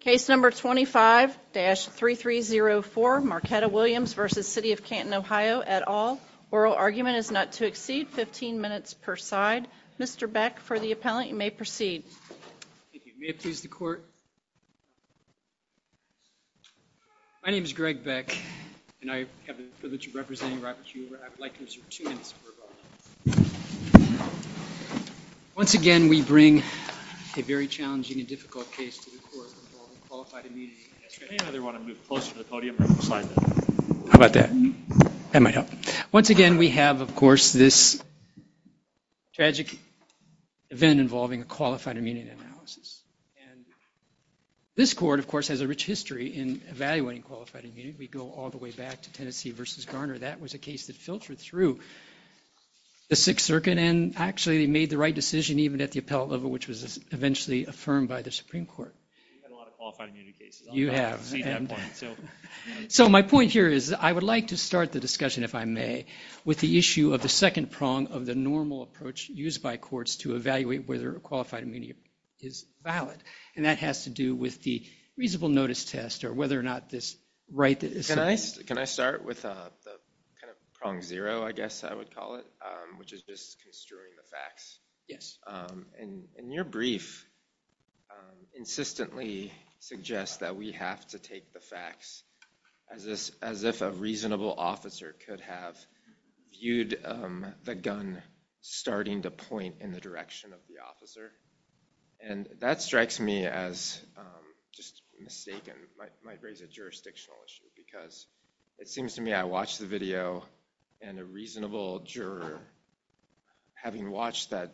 Case number 25-3304 Marquetta Williams v. City of Canton, OH et al. Oral argument is not to exceed 15 minutes per side. Mr. Beck, for the appellant, you may proceed. Thank you. May it please the court? My name is Greg Beck, and I have the privilege of representing Robert Huber. I would like to reserve two minutes for rebuttal. Once again, we bring a very challenging and difficult case to the court involving qualified immunity. How about that? That might help. Once again, we have, of course, this tragic event involving a qualified immunity analysis. This court, of course, has a rich history in evaluating qualified immunity. We go all the way back to Tennessee v. Garner. That was a case that filtered through the Sixth Circuit, and actually, they made the right decision, even at the appellate level, which was eventually affirmed by the Supreme Court. You've had a lot of qualified immunity cases. You have. So my point here is I would like to start the discussion, if I may, with the issue of the second prong of the normal approach used by courts to evaluate whether a qualified immunity is valid. And that has to do with the reasonable notice test or whether or not this right… Can I start with the prong zero, I guess I would call it, which is just construing the facts? Yes. And your brief insistently suggests that we have to take the facts as if a reasonable officer could have viewed the gun starting to point in the direction of the officer. And that strikes me as just mistaken. It might raise a jurisdictional issue, because it seems to me I watched the video, and a reasonable juror, having watched the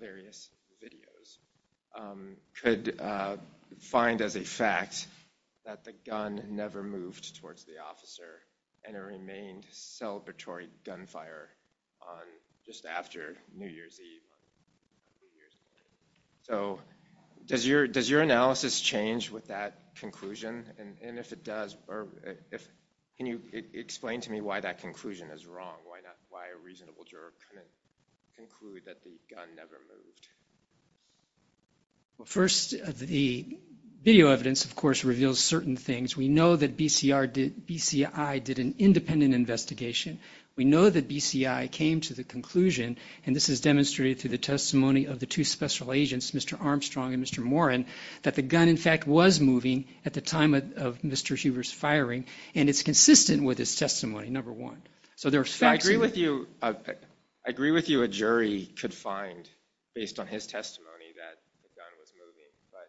various videos, could find as a fact that the gun never moved towards the officer, and it remained celebratory gunfire just after New Year's Eve. So does your analysis change with that conclusion? And if it does, can you explain to me why that conclusion is wrong? Why a reasonable juror couldn't conclude that the gun never moved? Well, first, the video evidence, of course, reveals certain things. We know that BCI did an independent investigation. We know that BCI came to the conclusion, and this is demonstrated through the testimony of the two special agents, Mr. Armstrong and Mr. Morin, that the gun, in fact, was moving at the time of Mr. Huber's firing, and it's consistent with his testimony, number one. So there are facts… I agree with you a jury could find, based on his testimony, that the gun was moving. But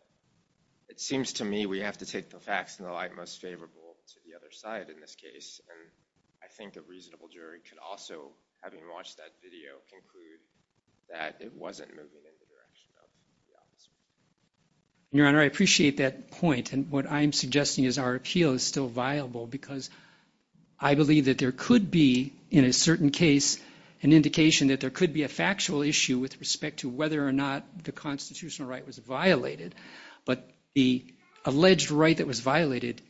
it seems to me we have to take the facts in the light most favorable to the other side in this case, and I think a reasonable jury could also, having watched that video, conclude that it wasn't moving in the direction of the officer. Your Honor, I appreciate that point, and what I'm suggesting is our appeal is still viable, because I believe that there could be, in a certain case, an indication that there could be a factual issue with respect to whether or not the constitutional right was violated, but the alleged right that was violated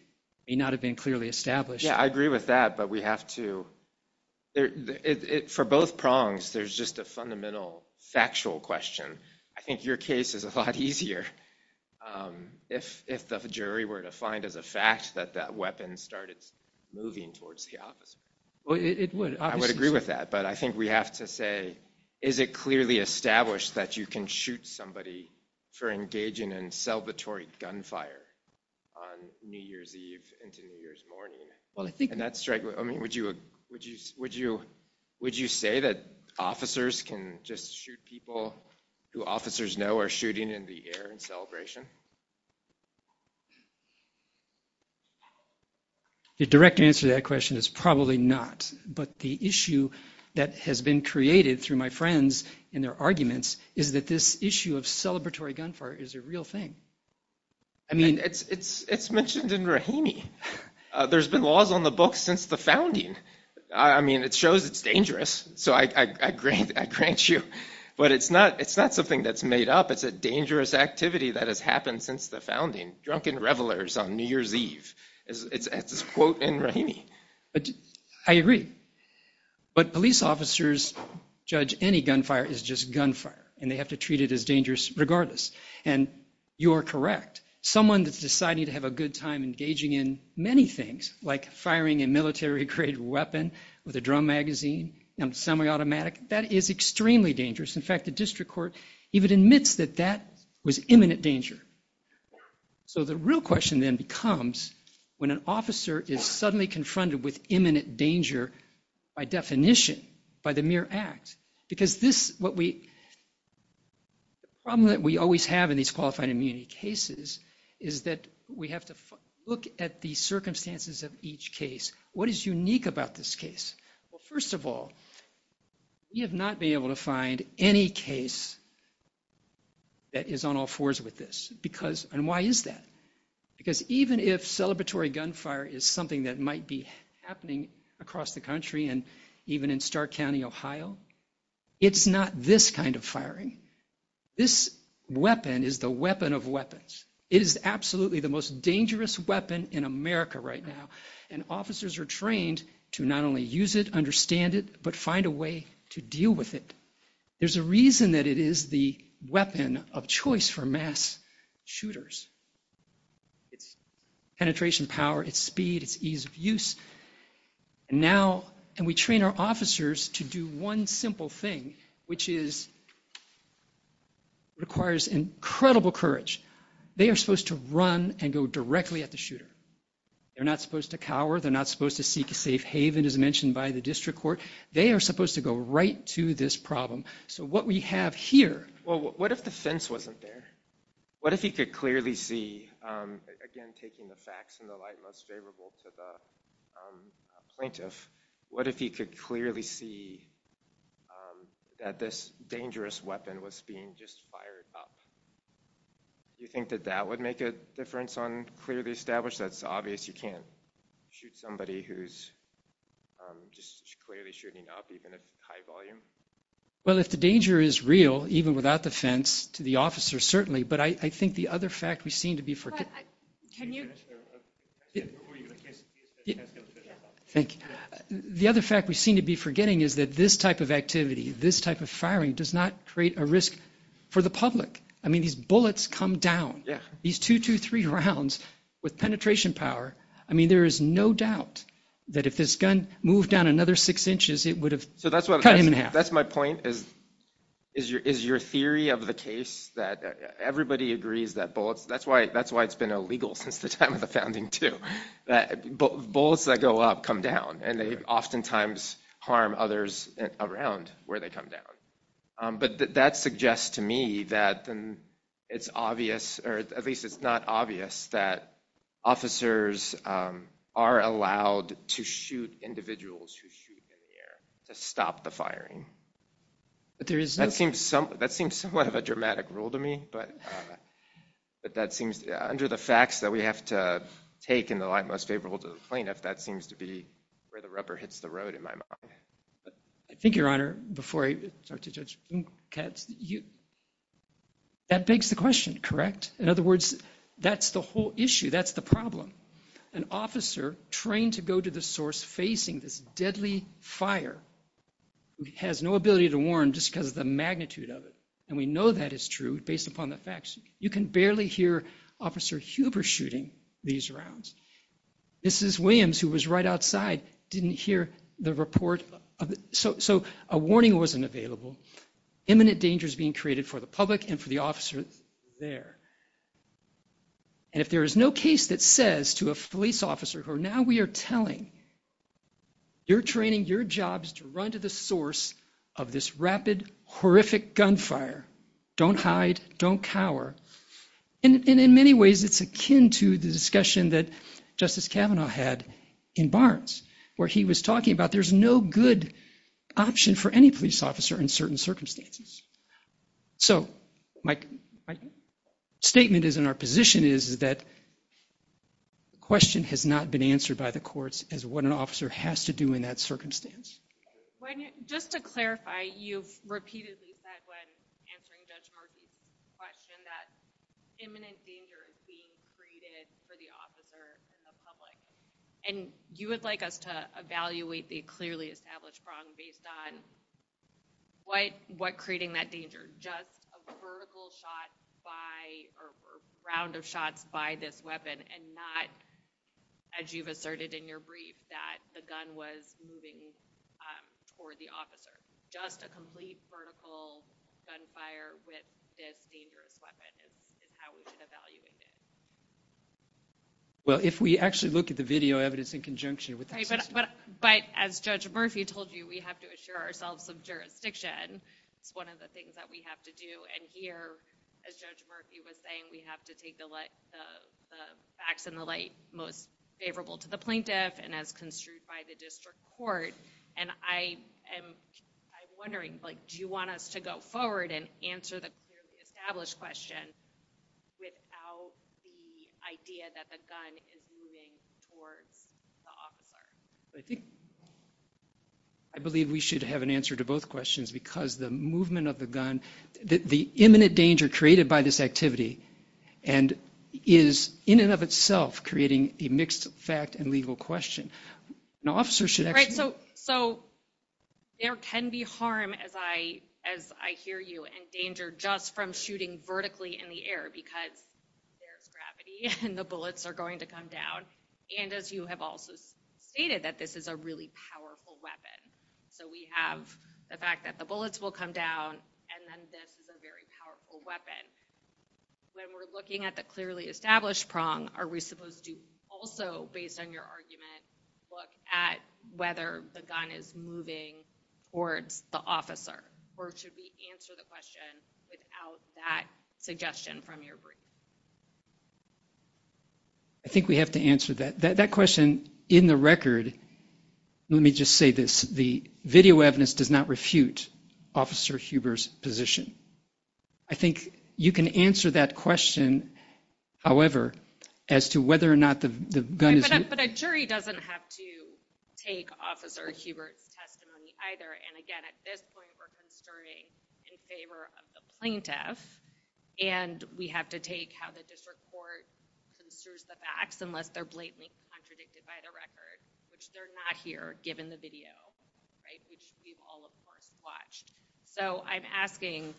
may not have been clearly established. Yeah, I agree with that, but we have to… For both prongs, there's just a fundamental factual question. I think your case is a lot easier if the jury were to find as a fact that that weapon started moving towards the officer. Well, it would. I would agree with that, but I think we have to say, is it clearly established that you can shoot somebody for engaging in salvatory gunfire on New Year's Eve into New Year's morning? Well, I think… Would you say that officers can just shoot people who officers know are shooting in the air in celebration? The direct answer to that question is probably not, but the issue that has been created through my friends and their arguments is that this issue of celebratory gunfire is a real thing. I mean, it's mentioned in Rahimi. There's been laws on the book since the founding. I mean, it shows it's dangerous, so I grant you, but it's not something that's made up. It's a dangerous activity that has happened since the founding, drunken revelers on New Year's Eve. It's a quote in Rahimi. I agree, but police officers judge any gunfire as just gunfire, and they have to treat it as dangerous regardless, and you are correct. Someone that's deciding to have a good time engaging in many things, like firing a military-grade weapon with a drum magazine, semi-automatic, that is extremely dangerous. In fact, the district court even admits that that was imminent danger. So the real question then becomes when an officer is suddenly confronted with imminent danger by definition, by the mere act, because the problem that we always have in these qualified immunity cases is that we have to look at the circumstances of each case. What is unique about this case? Well, first of all, we have not been able to find any case that is on all fours with this, and why is that? Because even if celebratory gunfire is something that might be happening across the country and even in Stark County, Ohio, it's not this kind of firing. This weapon is the weapon of weapons. It is absolutely the most dangerous weapon in America right now, and officers are trained to not only use it, understand it, but find a way to deal with it. There's a reason that it is the weapon of choice for mass shooters. It's penetration power, it's speed, it's ease of use. And we train our officers to do one simple thing, which requires incredible courage. They are supposed to run and go directly at the shooter. They're not supposed to cower, they're not supposed to seek a safe haven, as mentioned by the district court. They are supposed to go right to this problem. So what we have here... Well, what if the fence wasn't there? What if he could clearly see, again, taking the facts in the light most favorable to the plaintiff, what if he could clearly see that this dangerous weapon was being just fired up? Do you think that that would make a difference on clearly established? That it's obvious you can't shoot somebody who's just clearly shooting up, even at high volume? Well, if the danger is real, even without the fence, to the officer, certainly. But I think the other fact we seem to be forgetting... Can you finish there? Thank you. The other fact we seem to be forgetting is that this type of activity, this type of firing, does not create a risk for the public. I mean, these bullets come down. These two, two, three rounds, with penetration power. I mean, there is no doubt that if this gun moved down another six inches, it would have cut him in half. That's my point. Is your theory of the case that everybody agrees that bullets... That's why it's been illegal since the time of the founding, too. Bullets that go up come down, and they oftentimes harm others around where they come down. But that suggests to me that it's obvious, or at least it's not obvious, that officers are allowed to shoot individuals who shoot in the air to stop the firing. That seems somewhat of a dramatic rule to me. But that seems... Under the facts that we have to take in the light most favorable to the plaintiff, that seems to be where the rubber hits the road, in my mind. I think, Your Honor, before I start to judge Katz, that begs the question, correct? In other words, that's the whole issue. That's the problem. An officer trained to go to the source facing this deadly fire has no ability to warn just because of the magnitude of it. And we know that is true based upon the facts. You can barely hear Officer Huber shooting these rounds. Mrs. Williams, who was right outside, didn't hear the report. So a warning wasn't available. Imminent danger is being created for the public and for the officers there. And if there is no case that says to a police officer, who now we are telling, you're training your jobs to run to the source of this rapid, horrific gunfire, don't hide, don't cower. And in many ways, it's akin to the discussion that Justice Kavanaugh had in Barnes, where he was talking about there's no good option for any police officer in certain circumstances. So my statement is, and our position is, is that the question has not been answered by the courts as what an officer has to do in that circumstance. Just to clarify, you've repeatedly said when answering Judge Markey's question that imminent danger is being created for the officer and the public. And you would like us to evaluate the clearly established wrong based on what creating that danger, just a vertical shot by or round of shots by this weapon and not, as you've asserted in your brief, that the gun was moving toward the officer. Just a complete vertical gunfire with this dangerous weapon is how we should evaluate it. Well, if we actually look at the video evidence in conjunction with the system. But as Judge Murphy told you, we have to assure ourselves of jurisdiction. It's one of the things that we have to do. And here, as Judge Murphy was saying, we have to take the facts in the light most favorable to the plaintiff and as construed by the district court. And I'm wondering, do you want us to go forward and answer the clearly established question without the idea that the gun is moving towards the officer? I believe we should have an answer to both questions because the movement of the gun, the imminent danger created by this activity and is in and of itself creating a mixed fact and legal question. An officer should actually... Right, so there can be harm, as I hear you, and danger just from shooting vertically in the air because there's gravity and the bullets are going to come down. And as you have also stated, that this is a really powerful weapon. So we have the fact that the bullets will come down and then this is a very powerful weapon. When we're looking at the clearly established prong, are we supposed to also, based on your argument, look at whether the gun is moving towards the officer? Or should we answer the question without that suggestion from your brief? I think we have to answer that. That question, in the record, let me just say this. The video evidence does not refute Officer Hubert's position. I think you can answer that question, however, as to whether or not the gun is... Right, but a jury doesn't have to take Officer Hubert's testimony either. And again, at this point, we're concerning in favor of the plaintiff. And we have to take how the district court considers the facts, unless they're blatantly contradicted by the record, which they're not here, given the video, which we've all, of course, watched. So I'm asking,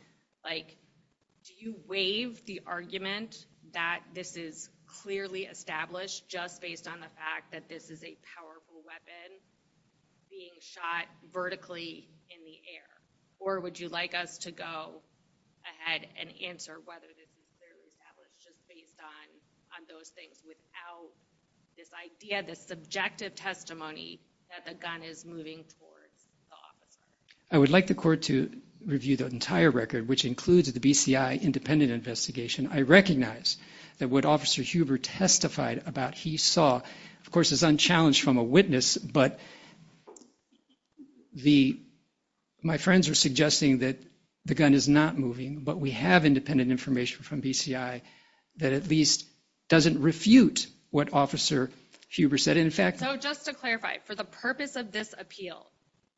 do you waive the argument that this is clearly established just based on the fact that this is a powerful weapon being shot vertically in the air? Or would you like us to go ahead and answer whether this is clearly established just based on those things without this idea, this subjective testimony, that the gun is moving towards the officer? I would like the court to review the entire record, which includes the BCI independent investigation. I recognize that what Officer Hubert testified about, he saw, of course, is unchallenged from a witness, but my friends are suggesting that the gun is not moving, but we have independent information from BCI that at least doesn't refute what Officer Hubert said. And in fact... So just to clarify, for the purpose of this appeal,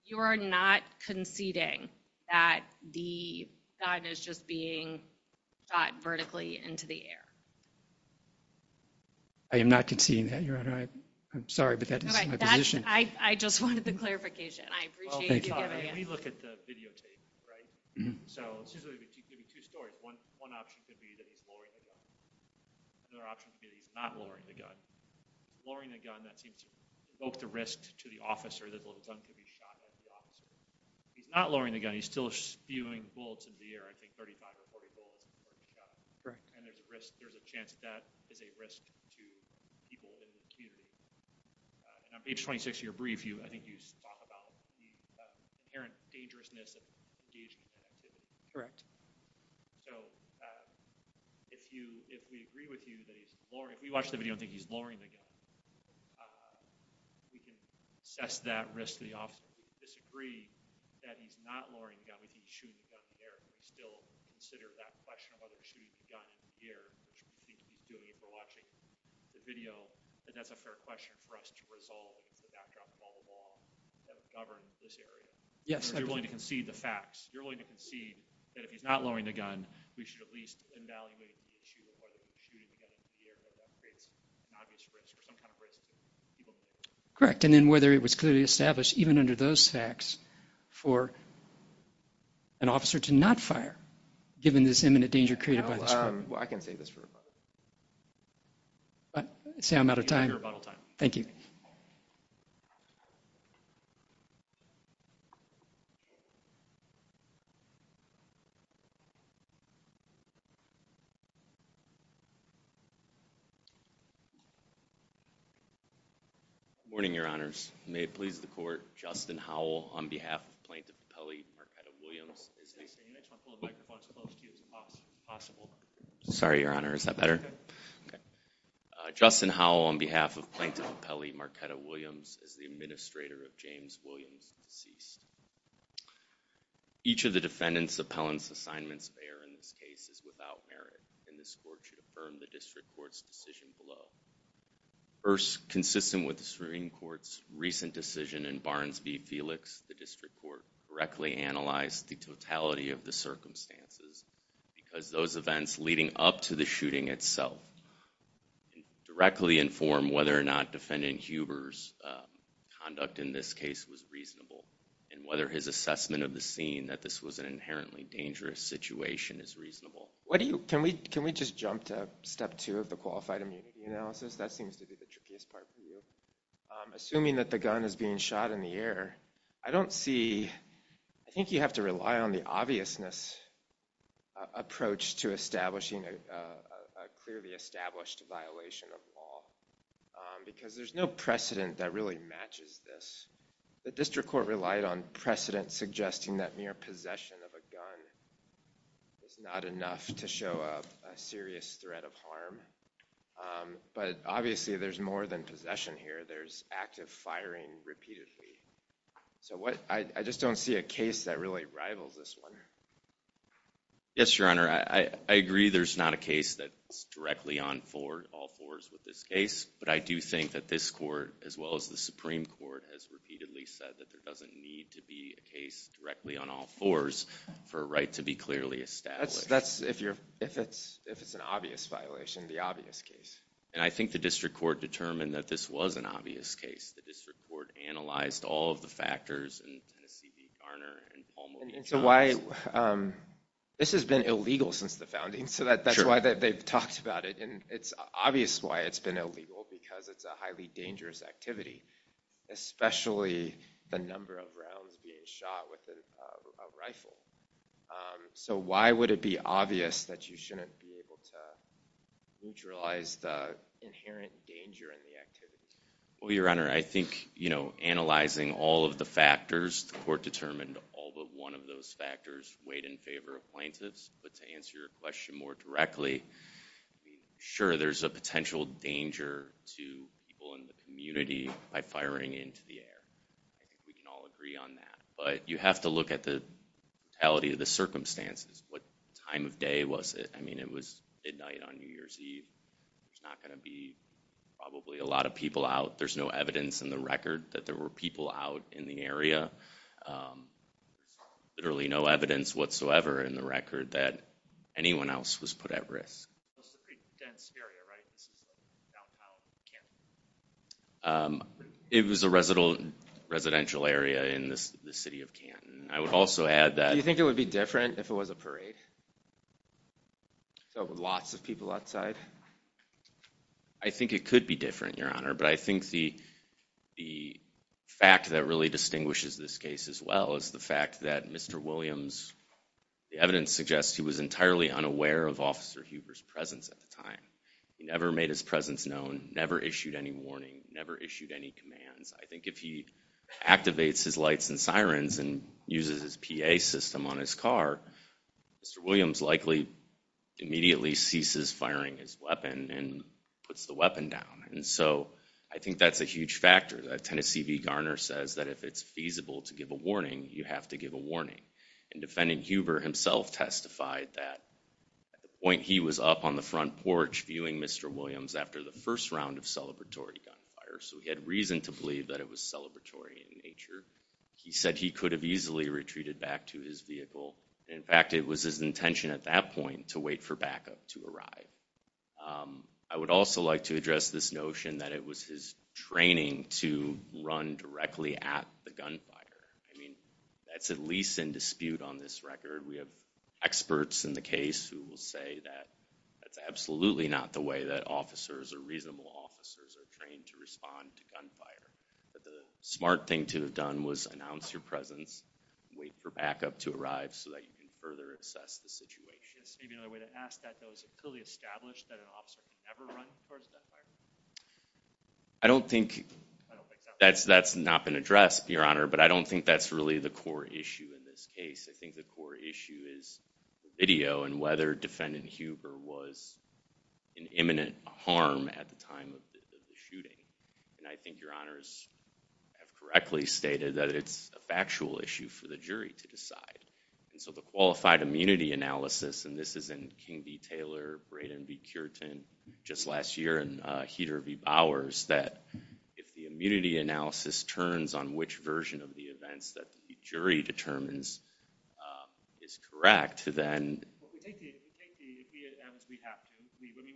you are not conceding that the gun is just being shot vertically into the air? I am not conceding that, Your Honor. I'm sorry, but that is my position. I just wanted the clarification. I appreciate you giving it. Well, let me look at the videotape, right? So this is going to be two stories. One option could be that he's lowering the gun. Another option could be that he's not lowering the gun. Lowering the gun, that seems to provoke the risk to the officer that the gun could be shot at the officer. He's not lowering the gun. He's still spewing bullets into the air, I think 35 or 40 bullets. Correct. And there's a chance that that is a risk to people in the community. And on page 26 of your brief, I think you talk about the apparent dangerousness of engagement. Correct. So if we agree with you that he's lowering the gun, if we watch the video and think he's lowering the gun, we can assess that risk to the officer. If we disagree that he's not lowering the gun, we can still consider that question of whether he's shooting the gun in the air, which we can do if we're watching the video, and that's a fair question for us to resolve. It's the backdrop of all the law that governs this area. Yes. You're willing to concede the facts. You're willing to concede that if he's not lowering the gun, we should at least evaluate the issue of whether he's shooting the gun in the air because that creates an obvious risk or some kind of risk to people. Correct. And then whether it was clearly established, even under those facts, for an officer to not fire given this imminent danger created by this weapon. I can save this for rebuttal. I'm out of time. Your rebuttal time. Thank you. Good morning, Your Honors. May it please the court, Justin Howell, on behalf of Plaintiff Pepelle, Marquetta Williams. Sorry, Your Honor. Is that better? Okay. Justin Howell, on behalf of Plaintiff Pepelle, Marquetta Williams, is the administrator of James Williams, deceased. Each of the defendant's appellant's assignments there in this case is without merit, and this court should affirm the district court's decision below. First, consistent with the Supreme Court's recent decision in Barnes v. Felix, the district court directly analyzed the totality of the circumstances because those events leading up to the shooting itself directly inform whether or not defendant Huber's conduct in this case was reasonable and whether his assessment of the scene, that this was an inherently dangerous situation, is reasonable. Can we just jump to step two of the qualified immunity analysis? That seems to be the trickiest part for you. Assuming that the gun is being shot in the air, I think you have to rely on the obviousness approach to establishing a clearly established violation of law because there's no precedent that really matches this. The district court relied on precedent suggesting that mere possession of a gun is not enough to show a serious threat of harm. But obviously, there's more than possession here. There's active firing repeatedly. So I just don't see a case that really rivals this one. Yes, Your Honor, I agree there's not a case that's directly on all fours with this case. But I do think that this court, as well as the Supreme Court, has repeatedly said that there doesn't need to be a case directly on all fours for a right to be clearly established. That's if it's an obvious violation, the obvious case. And I think the district court determined that this was an obvious case. The district court analyzed all of the factors in Tennessee v. Garner and Palmer. And so why... This has been illegal since the founding, so that's why they've talked about it. And it's obvious why it's been illegal, because it's a highly dangerous activity, especially the number of rounds being shot with a rifle. So why would it be obvious that you shouldn't be able to neutralize the inherent danger in the activity? Well, Your Honor, I think, you know, all of the factors, the court determined all but one of those factors weighed in favor of plaintiffs. But to answer your question more directly, sure, there's a potential danger to people in the community by firing into the air. I think we can all agree on that. But you have to look at the totality of the circumstances. What time of day was it? I mean, it was midnight on New Year's Eve. There's not going to be probably a lot of people out. There's no evidence in the record that there were people out in the area. There's literally no evidence whatsoever in the record that anyone else was put at risk. It's a pretty dense area, right? It's downtown Canton. It was a residential area in the city of Canton. I would also add that... Do you think it would be different if it was a parade? So lots of people outside? I think it could be different, Your Honor. But I think the fact that really distinguishes this case as well is the fact that Mr. Williams... The evidence suggests he was entirely unaware of Officer Huber's presence at the time. He never made his presence known, never issued any warning, never issued any commands. I think if he activates his lights and sirens and uses his PA system on his car, Mr. Williams likely immediately ceases firing his weapon and puts the weapon down. And so I think that's a huge factor. Tennessee v. Garner says that if it's feasible to give a warning, you have to give a warning. And Defendant Huber himself testified that at the point he was up on the front porch viewing Mr. Williams after the first round of celebratory gunfire, so he had reason to believe that it was celebratory in nature. He said he could have easily retreated back to his vehicle. In fact, it was his intention at that point to wait for backup to arrive. I would also like to address this notion that it was his training to run directly at the gunfire. I mean, that's at least in dispute on this record. We have experts in the case who will say that that's absolutely not the way that officers or reasonable officers are trained to respond to gunfire, that the smart thing to have done was announce your presence, wait for backup to arrive, so that you can further assess the situation. I guess maybe another way to ask that, though, is it clearly established that an officer would never run towards gunfire? I don't think that's not been addressed, Your Honor, but I don't think that's really the core issue in this case. I think the core issue is the video and whether Defendant Huber was in imminent harm at the time of the shooting. And I think Your Honors have correctly stated that it's a factual issue for the jury to decide. And so the qualified immunity analysis, and this is in King v. Taylor, Braden v. Cureton, just last year, and Heater v. Bowers, that if the immunity analysis turns on which version of the events that the jury determines is correct, then... We take the...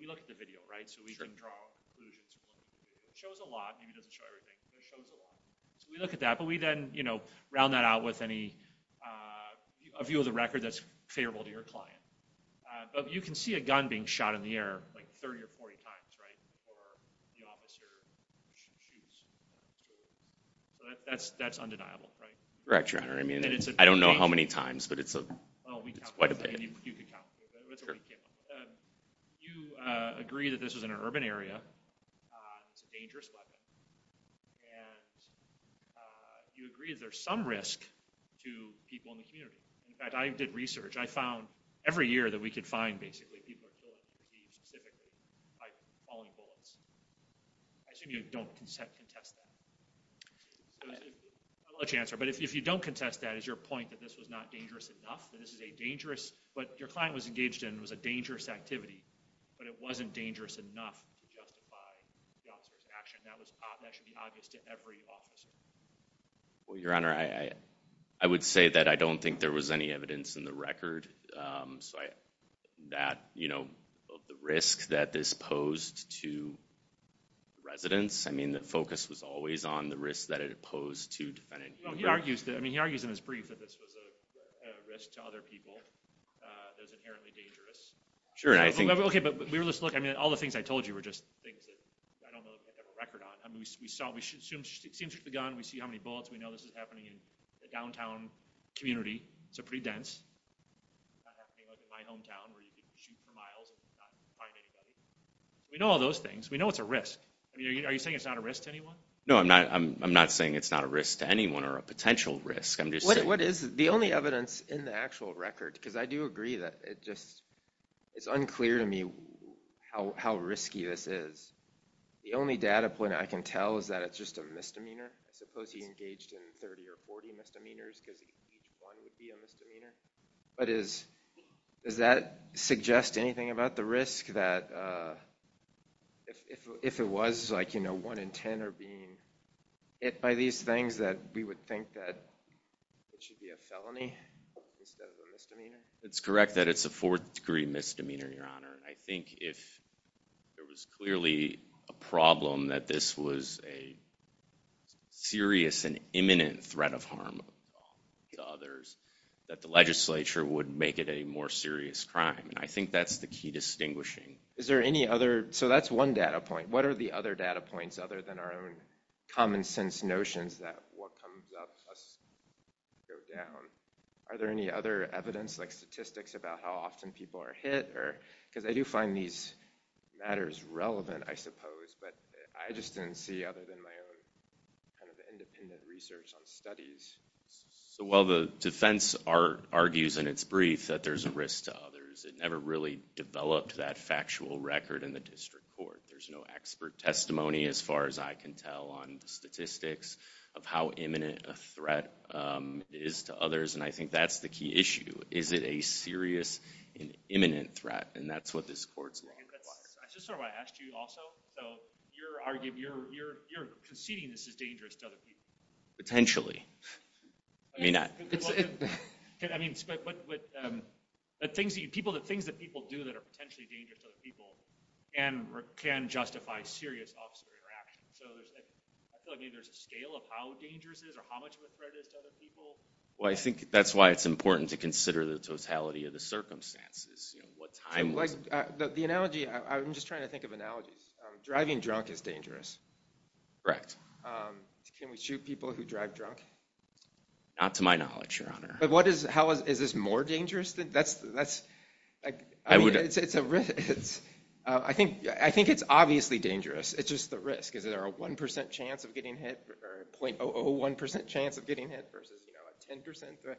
We look at the video, right? So we can draw conclusions. It shows a lot. Maybe it doesn't show everything, but it shows a lot. So we look at that, but we then, you know, round that out with any... A view of the record that's favorable to your client. But you can see a gun being shot in the air like 30 or 40 times, right? Or the officer... That's undeniable, right? Correct, Your Honor. I don't know how many times, but it's quite a bit. You can count. You agree that this was in an urban area. It's a dangerous weapon. And you agree that there's some risk to people in the community. In fact, I did research. I found every year that we could find, basically, people who were killed, specifically, by falling bullets. I assume you don't contest that. I love to answer, but if you don't contest that, is your point that this was not dangerous enough, that this is a dangerous... What your client was engaged in was a dangerous activity, but it wasn't dangerous enough to justify the officer's action. That should be obvious to every officer. Well, Your Honor, I would say that I don't think there was any evidence in the record that the risk that this posed to residents... I mean, the focus was always on the risk that it posed to defendants. He argues in his brief that this was a risk to other people that was inherently dangerous. Sure, I think... Okay, but all the things I told you were just things that I don't know that they have a record on. I mean, we saw... We zoomed through the gun. We see how many bullets. We know this is happening in the downtown community. It's pretty dense. It's not happening in my hometown where you can shoot for miles and not find anybody. We know all those things. We know it's a risk. Are you saying it's not a risk to anyone? No, I'm not saying it's not a risk to anyone or a potential risk. I'm just saying... What is the only evidence in the actual record? Because I do agree that it just... It's unclear to me how risky this is. The only data point I can tell is that it's just a misdemeanor. I suppose he engaged in 30 or 40 misdemeanors because each one would be a misdemeanor. But does that suggest anything about the risk that if it was like, you know, one in 10 are being hit by these things that we would think that it should be a felony instead of a misdemeanor? It's correct that it's a fourth-degree misdemeanor, Your Honor. I think if there was clearly a problem that this was a serious and imminent threat of harm to others, that the legislature would make it a more serious crime. And I think that's the key distinguishing. Is there any other... So that's one data point. What are the other data points other than our own common-sense notions that what comes up must go down? Are there any other evidence like statistics about how often people are hit? Because I do find these matters relevant, I suppose, but I just didn't see other than my own kind of independent research on studies. Well, the defense argues in its brief that there's a risk to others. It never really developed that factual record in the district court. There's no expert testimony as far as I can tell on the statistics of how imminent a threat is to others, and I think that's the key issue. Is it a serious and imminent threat? And that's what this court's looking for. I just sort of want to ask you also, so you're arguing, you're conceding this is dangerous to other people. Potentially. I mean, it's... I mean, but the things that people do that are potentially dangerous to other people can justify serious officer interaction. So I feel like maybe there's a scale of how dangerous it is or how much of a threat it is to other people. Well, I think that's why it's important to consider the totality of the circumstances. You know, what time was it? The analogy, I'm just trying to think of analogies. Driving drunk is dangerous. Correct. Can we shoot people who drive drunk? Not to my knowledge, Your Honor. But what is, how, is this more dangerous? That's, I mean, it's a risk. I think it's obviously dangerous. It's just the risk. Is there a 1% chance of getting hit or a .001% chance of getting hit versus, you know, a 10% threat?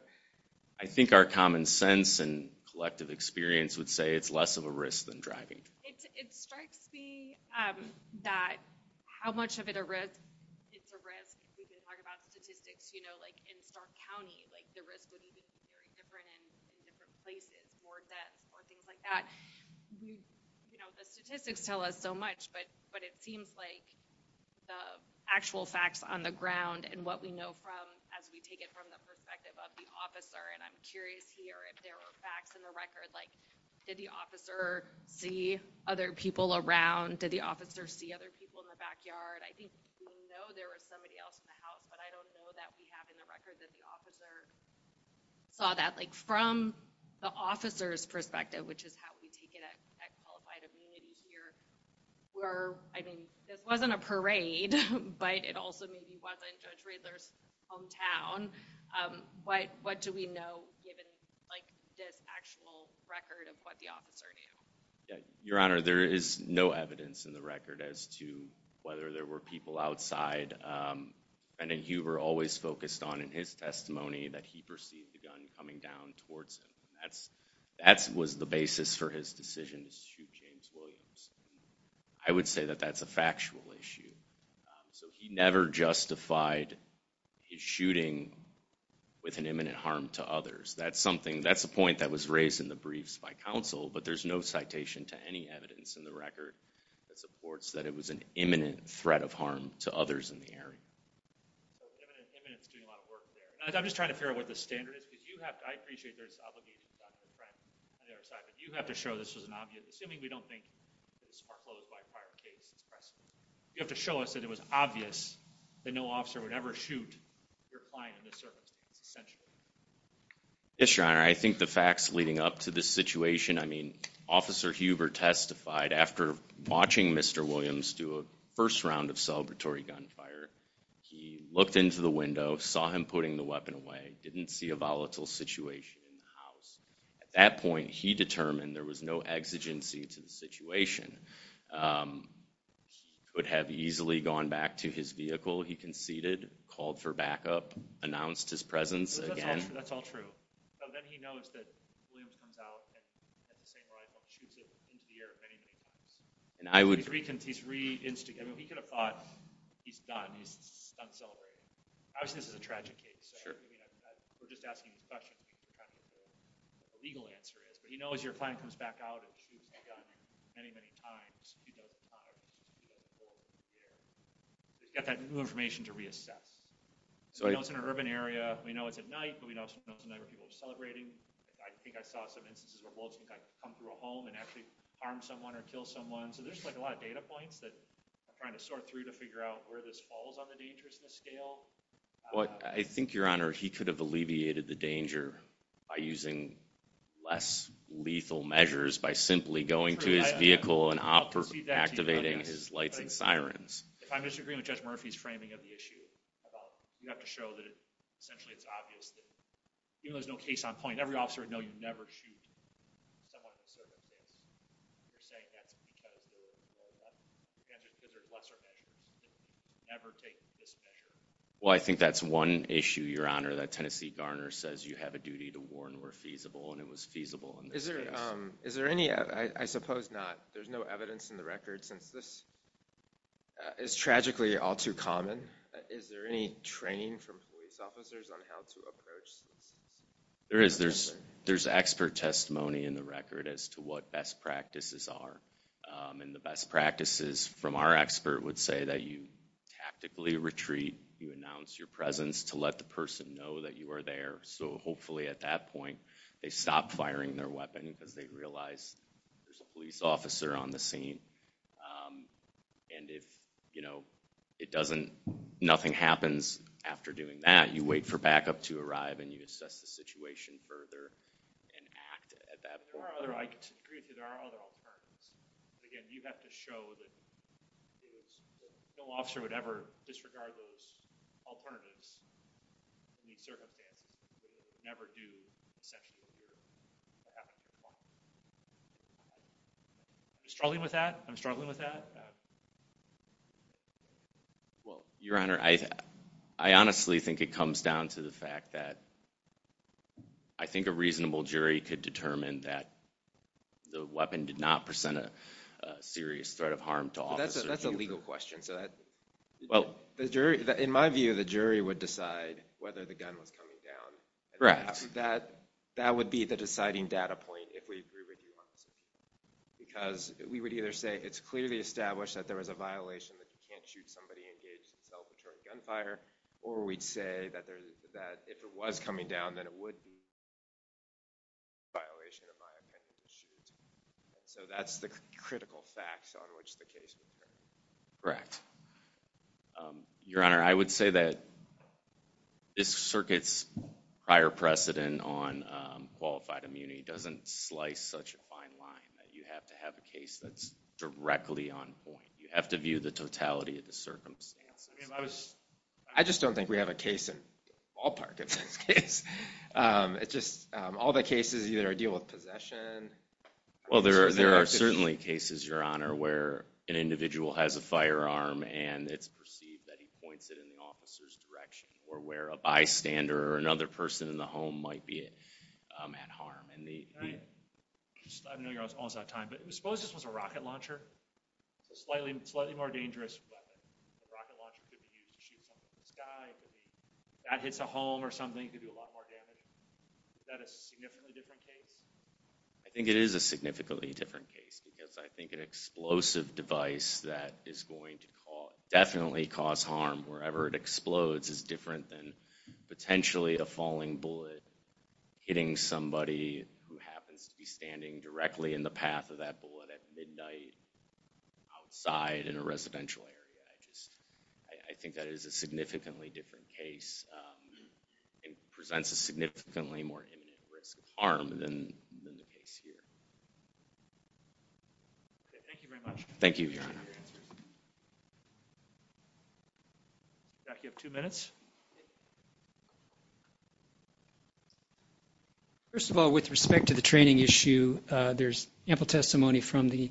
I think our common sense and collective experience would say it's less of a risk than driving. It strikes me that how much of it a risk, it's a risk. We've been talking about statistics, you know, like in Stark County, like the risk would be very different in different places, more deaths or things like that. You know, the statistics tell us so much, but it seems like the actual facts on the ground and what we know from as we take it from the perspective of the officer, and I'm curious here if there were facts in the record, like did the officer see other people around? Did the officer see other people in the backyard? I think we know there was somebody else in the house, but I don't know that we have in the record that the officer saw that. Like from the officer's perspective, which is how we take it at Qualified Immunity here, where, I mean, this wasn't a parade, but it also maybe wasn't Judge Riedler's hometown, but what do we know given, like, this actual record of what the officer knew? Your Honor, there is no evidence in the record as to whether there were people outside. Bennett Huber always focused on in his testimony that he perceived the gun coming down towards him. That was the basis for his decision to shoot James Williams. I would say that that's a factual issue. So he never justified his shooting with an imminent harm to others. That's a point that was raised in the briefs by counsel, but there's no citation to any evidence in the record that supports that it was an imminent threat of harm to others in the area. Imminent's doing a lot of work there. I'm just trying to figure out what the standard is, because you have to, I appreciate there's obligations on their side, but you have to show this was an obvious, assuming we don't think it was foreclosed by a prior case, you have to show us that it was obvious that no officer would ever shoot your client in this circumstance, essentially. Yes, Your Honor, I think the facts leading up to this situation, I mean, Officer Huber testified after watching Mr. Williams do a first round of celebratory gunfire. He looked into the window, saw him putting the weapon away, didn't see a volatile situation in the house. At that point, he determined there was no exigency to the situation. Could have easily gone back to his vehicle, he conceded, called for backup, announced his presence again. That's all true. But then he knows that Williams comes out and has the same rifle and shoots it into the air if anything happens. He's re-instigated. He could have thought, he's done, he's done celebrating. Obviously, this is a tragic case. We're just asking a question, kind of what the legal answer is. But he knows your client comes back out and shoots a gun many, many times. He's got that new information to reassess. So he knows it's in an urban area, we know it's at night, but we know it's a night where people are celebrating. I think I saw some instances where wolves would come through a home and actually harm someone or kill someone, so there's a lot of data points that are trying to sort through to figure out where this falls on the dangerousness scale. But I think, Your Honor, he could have alleviated the danger by using less lethal measures, by simply going to his vehicle and activating his lights and sirens. If I'm disagreeing with Judge Murphy's framing of the issue, you have to show that essentially it's obvious that even though there's no case on point, every officer would know you never shoot someone who's serving a case. You're saying that's a category where you have to consider lesser measures and never take this measure. Well, I think that's one issue, Your Honor, that Tennessee Garner says you have a duty to warn where feasible, and it was feasible in this case. Is there any, I suppose not, there's no evidence in the record since this is tragically all too common, is there any training from police officers on how to approach this? There is, there's expert testimony in the record as to what best practices are and the best practices from our expert would say that you tactically retreat, you announce your presence to let the person know that you are there so hopefully at that point they stop firing their weapon because they realize there's a police officer on the scene. And if, you know, it doesn't, nothing happens after doing that, you wait for backup to arrive and you assess the situation further and act at that point. There are other, I agree with you, there are other alternatives. Again, you have to show that no officer would ever disregard those alternatives in these circumstances. They would never do essentially what happened in the fall. Struggling with that? I'm struggling with that? Well, Your Honor, I honestly think it comes down to the fact that I think a reasonable jury could determine that the weapon did not present a serious threat of harm to officers. That's a legal question. In my view, the jury would decide whether the gun was coming down. Correct. That would be the deciding data point if we agree with you on this. Because we would either say it's clearly established that there was a violation that you can't shoot somebody engaged in self-injuring gunfire or we'd say that if it was coming down then it would be a violation, in my opinion, of shooting. So that's the critical facts on which the case would be. Correct. Your Honor, I would say that this circuit's prior precedent on qualified immunity doesn't slice such a fine line. You have to have a case that's directly on point. You have to view the totality of the circumstances. I just don't think we have a case in ballpark in this case. All the cases either deal with possession... Well, there are certainly cases, Your Honor, where an individual has a firearm and it's perceived that he points it in the officer's direction or where a bystander or another person in the home might be at harm. I know you're almost out of time, but suppose this was a rocket launcher. Slightly more dangerous weapon. A rocket launcher could be used to shoot something in the sky. If that hits a home or something, it could do a lot more damage. Is that a significantly different case? I think it is a significantly different case because I think an explosive device that is going to definitely cause harm wherever it explodes is different than potentially a falling bullet hitting somebody who happens to be standing directly in the path of that bullet at midnight outside in a residential area. I think that is a significantly different case and presents a significantly more imminent risk of harm than the case here. Thank you very much. Thank you, Your Honor. Jack, you have two minutes. First of all, with respect to the training issue, there's ample testimony from the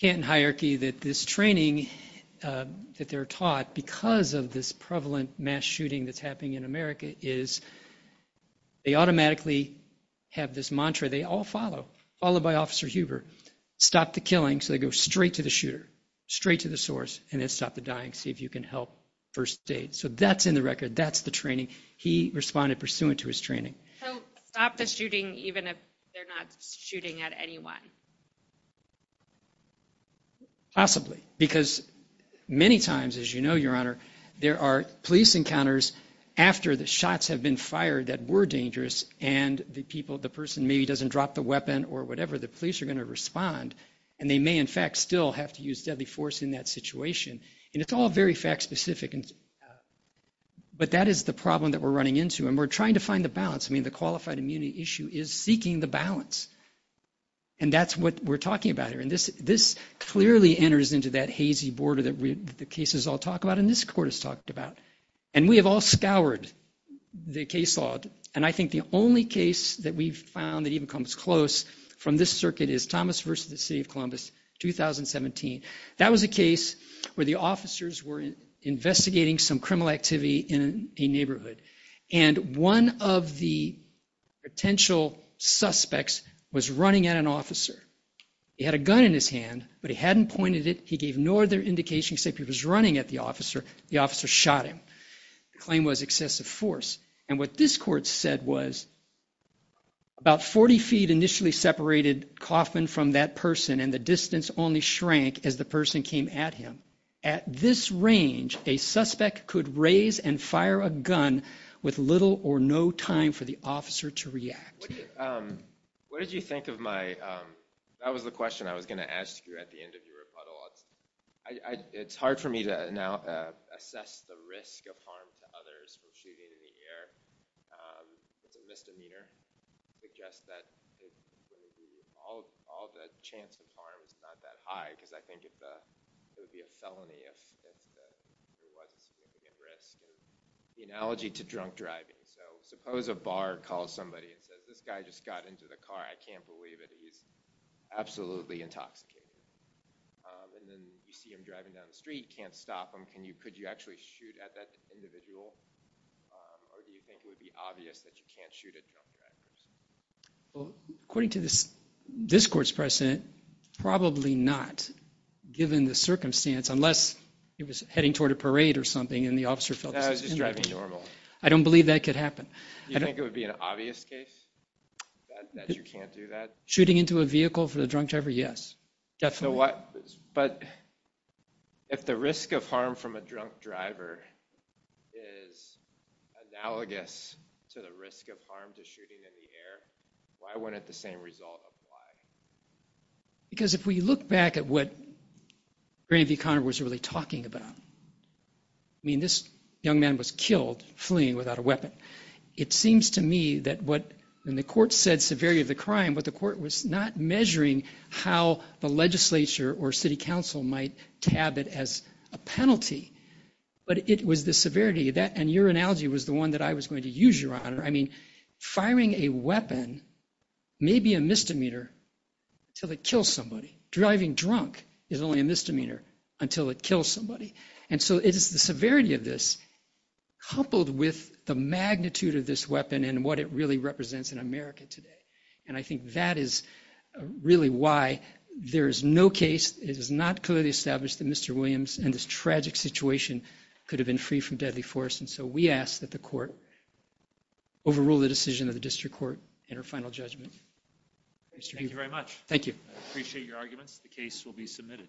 Canton hierarchy that this training that they're taught because of this prevalent mass shooting that's happening in America is they automatically have this mantra they all follow, followed by Officer Huber, stop the killing so they go straight to the shooter, straight to the source, and then stop the dying, see if you can help first aid. So that's in the record. That's the training. He responded pursuant to his training. So stop the shooting even if they're not shooting at anyone? Possibly, because many times, as you know, Your Honor, there are police encounters after the shots have been fired that were dangerous and the person maybe doesn't drop the weapon or whatever, the police are going to respond, and they may in fact still have to use deadly force in that situation. And it's all very fact-specific. But that is the problem that we're running into, and we're trying to find the balance. I mean, the qualified immunity issue is seeking the balance, and that's what we're talking about here. And this clearly enters into that hazy border that the cases all talk about and this Court has talked about. And we have all scoured the case law, and I think the only case that we've found that even comes close from this circuit is Thomas v. The City of Columbus, 2017. That was a case where the officers were investigating some criminal activity in a neighborhood, and one of the potential suspects was running at an officer. He had a gun in his hand, but he hadn't pointed it. He gave no other indication except he was running at the officer. The officer shot him. The claim was excessive force. And what this Court said was about 40 feet initially separated Kaufman from that person, and the distance only shrank as the person came at him. At this range, a suspect could raise and fire a gun with little or no time for the officer to react. What did you think of my... That was the question I was going to ask you at the end of your rebuttal. It's hard for me to now assess the risk of harm to others from shooting in the air. It's a misdemeanor. I guess that all the chance of harm is not that high because I think it would be a felony if there was a significant risk. The analogy to drunk driving. Suppose a bar calls somebody and says, this guy just got into the car. I can't believe it. He's absolutely intoxicated. And then you see him driving down the street, can't stop him. Could you actually shoot at that individual? Or do you think it would be obvious that you can't shoot at drunk drivers? According to this court's precedent, probably not, given the circumstance, unless he was heading toward a parade or something and the officer felt this was inappropriate. I don't believe that could happen. Do you think it would be an obvious case that you can't do that? Shooting into a vehicle for a drunk driver, yes. Definitely. But if the risk of harm from a drunk driver is analogous to the risk of harm to shooting in the air, why wouldn't the same result apply? Because if we look back at what Bernie V. Conner was really talking about, I mean, this young man was killed fleeing without a weapon. It seems to me that what, and the court said severity of the crime, but the court was not measuring how the legislature or city council might tab it as a penalty. But it was the severity, and your analogy was the one that I was going to use, Your Honor. I mean, firing a weapon may be a misdemeanor until it kills somebody. Driving drunk is only a misdemeanor until it kills somebody. And so it is the severity of this coupled with the magnitude of this weapon and what it really represents in America today. And I think that is really why there is no case, it is not clearly established that Mr. Williams in this tragic situation could have been freed from deadly force. And so we ask that the court overrule the decision of the district court in our final judgment. Thank you very much. Thank you. I appreciate your arguments. The case will be submitted.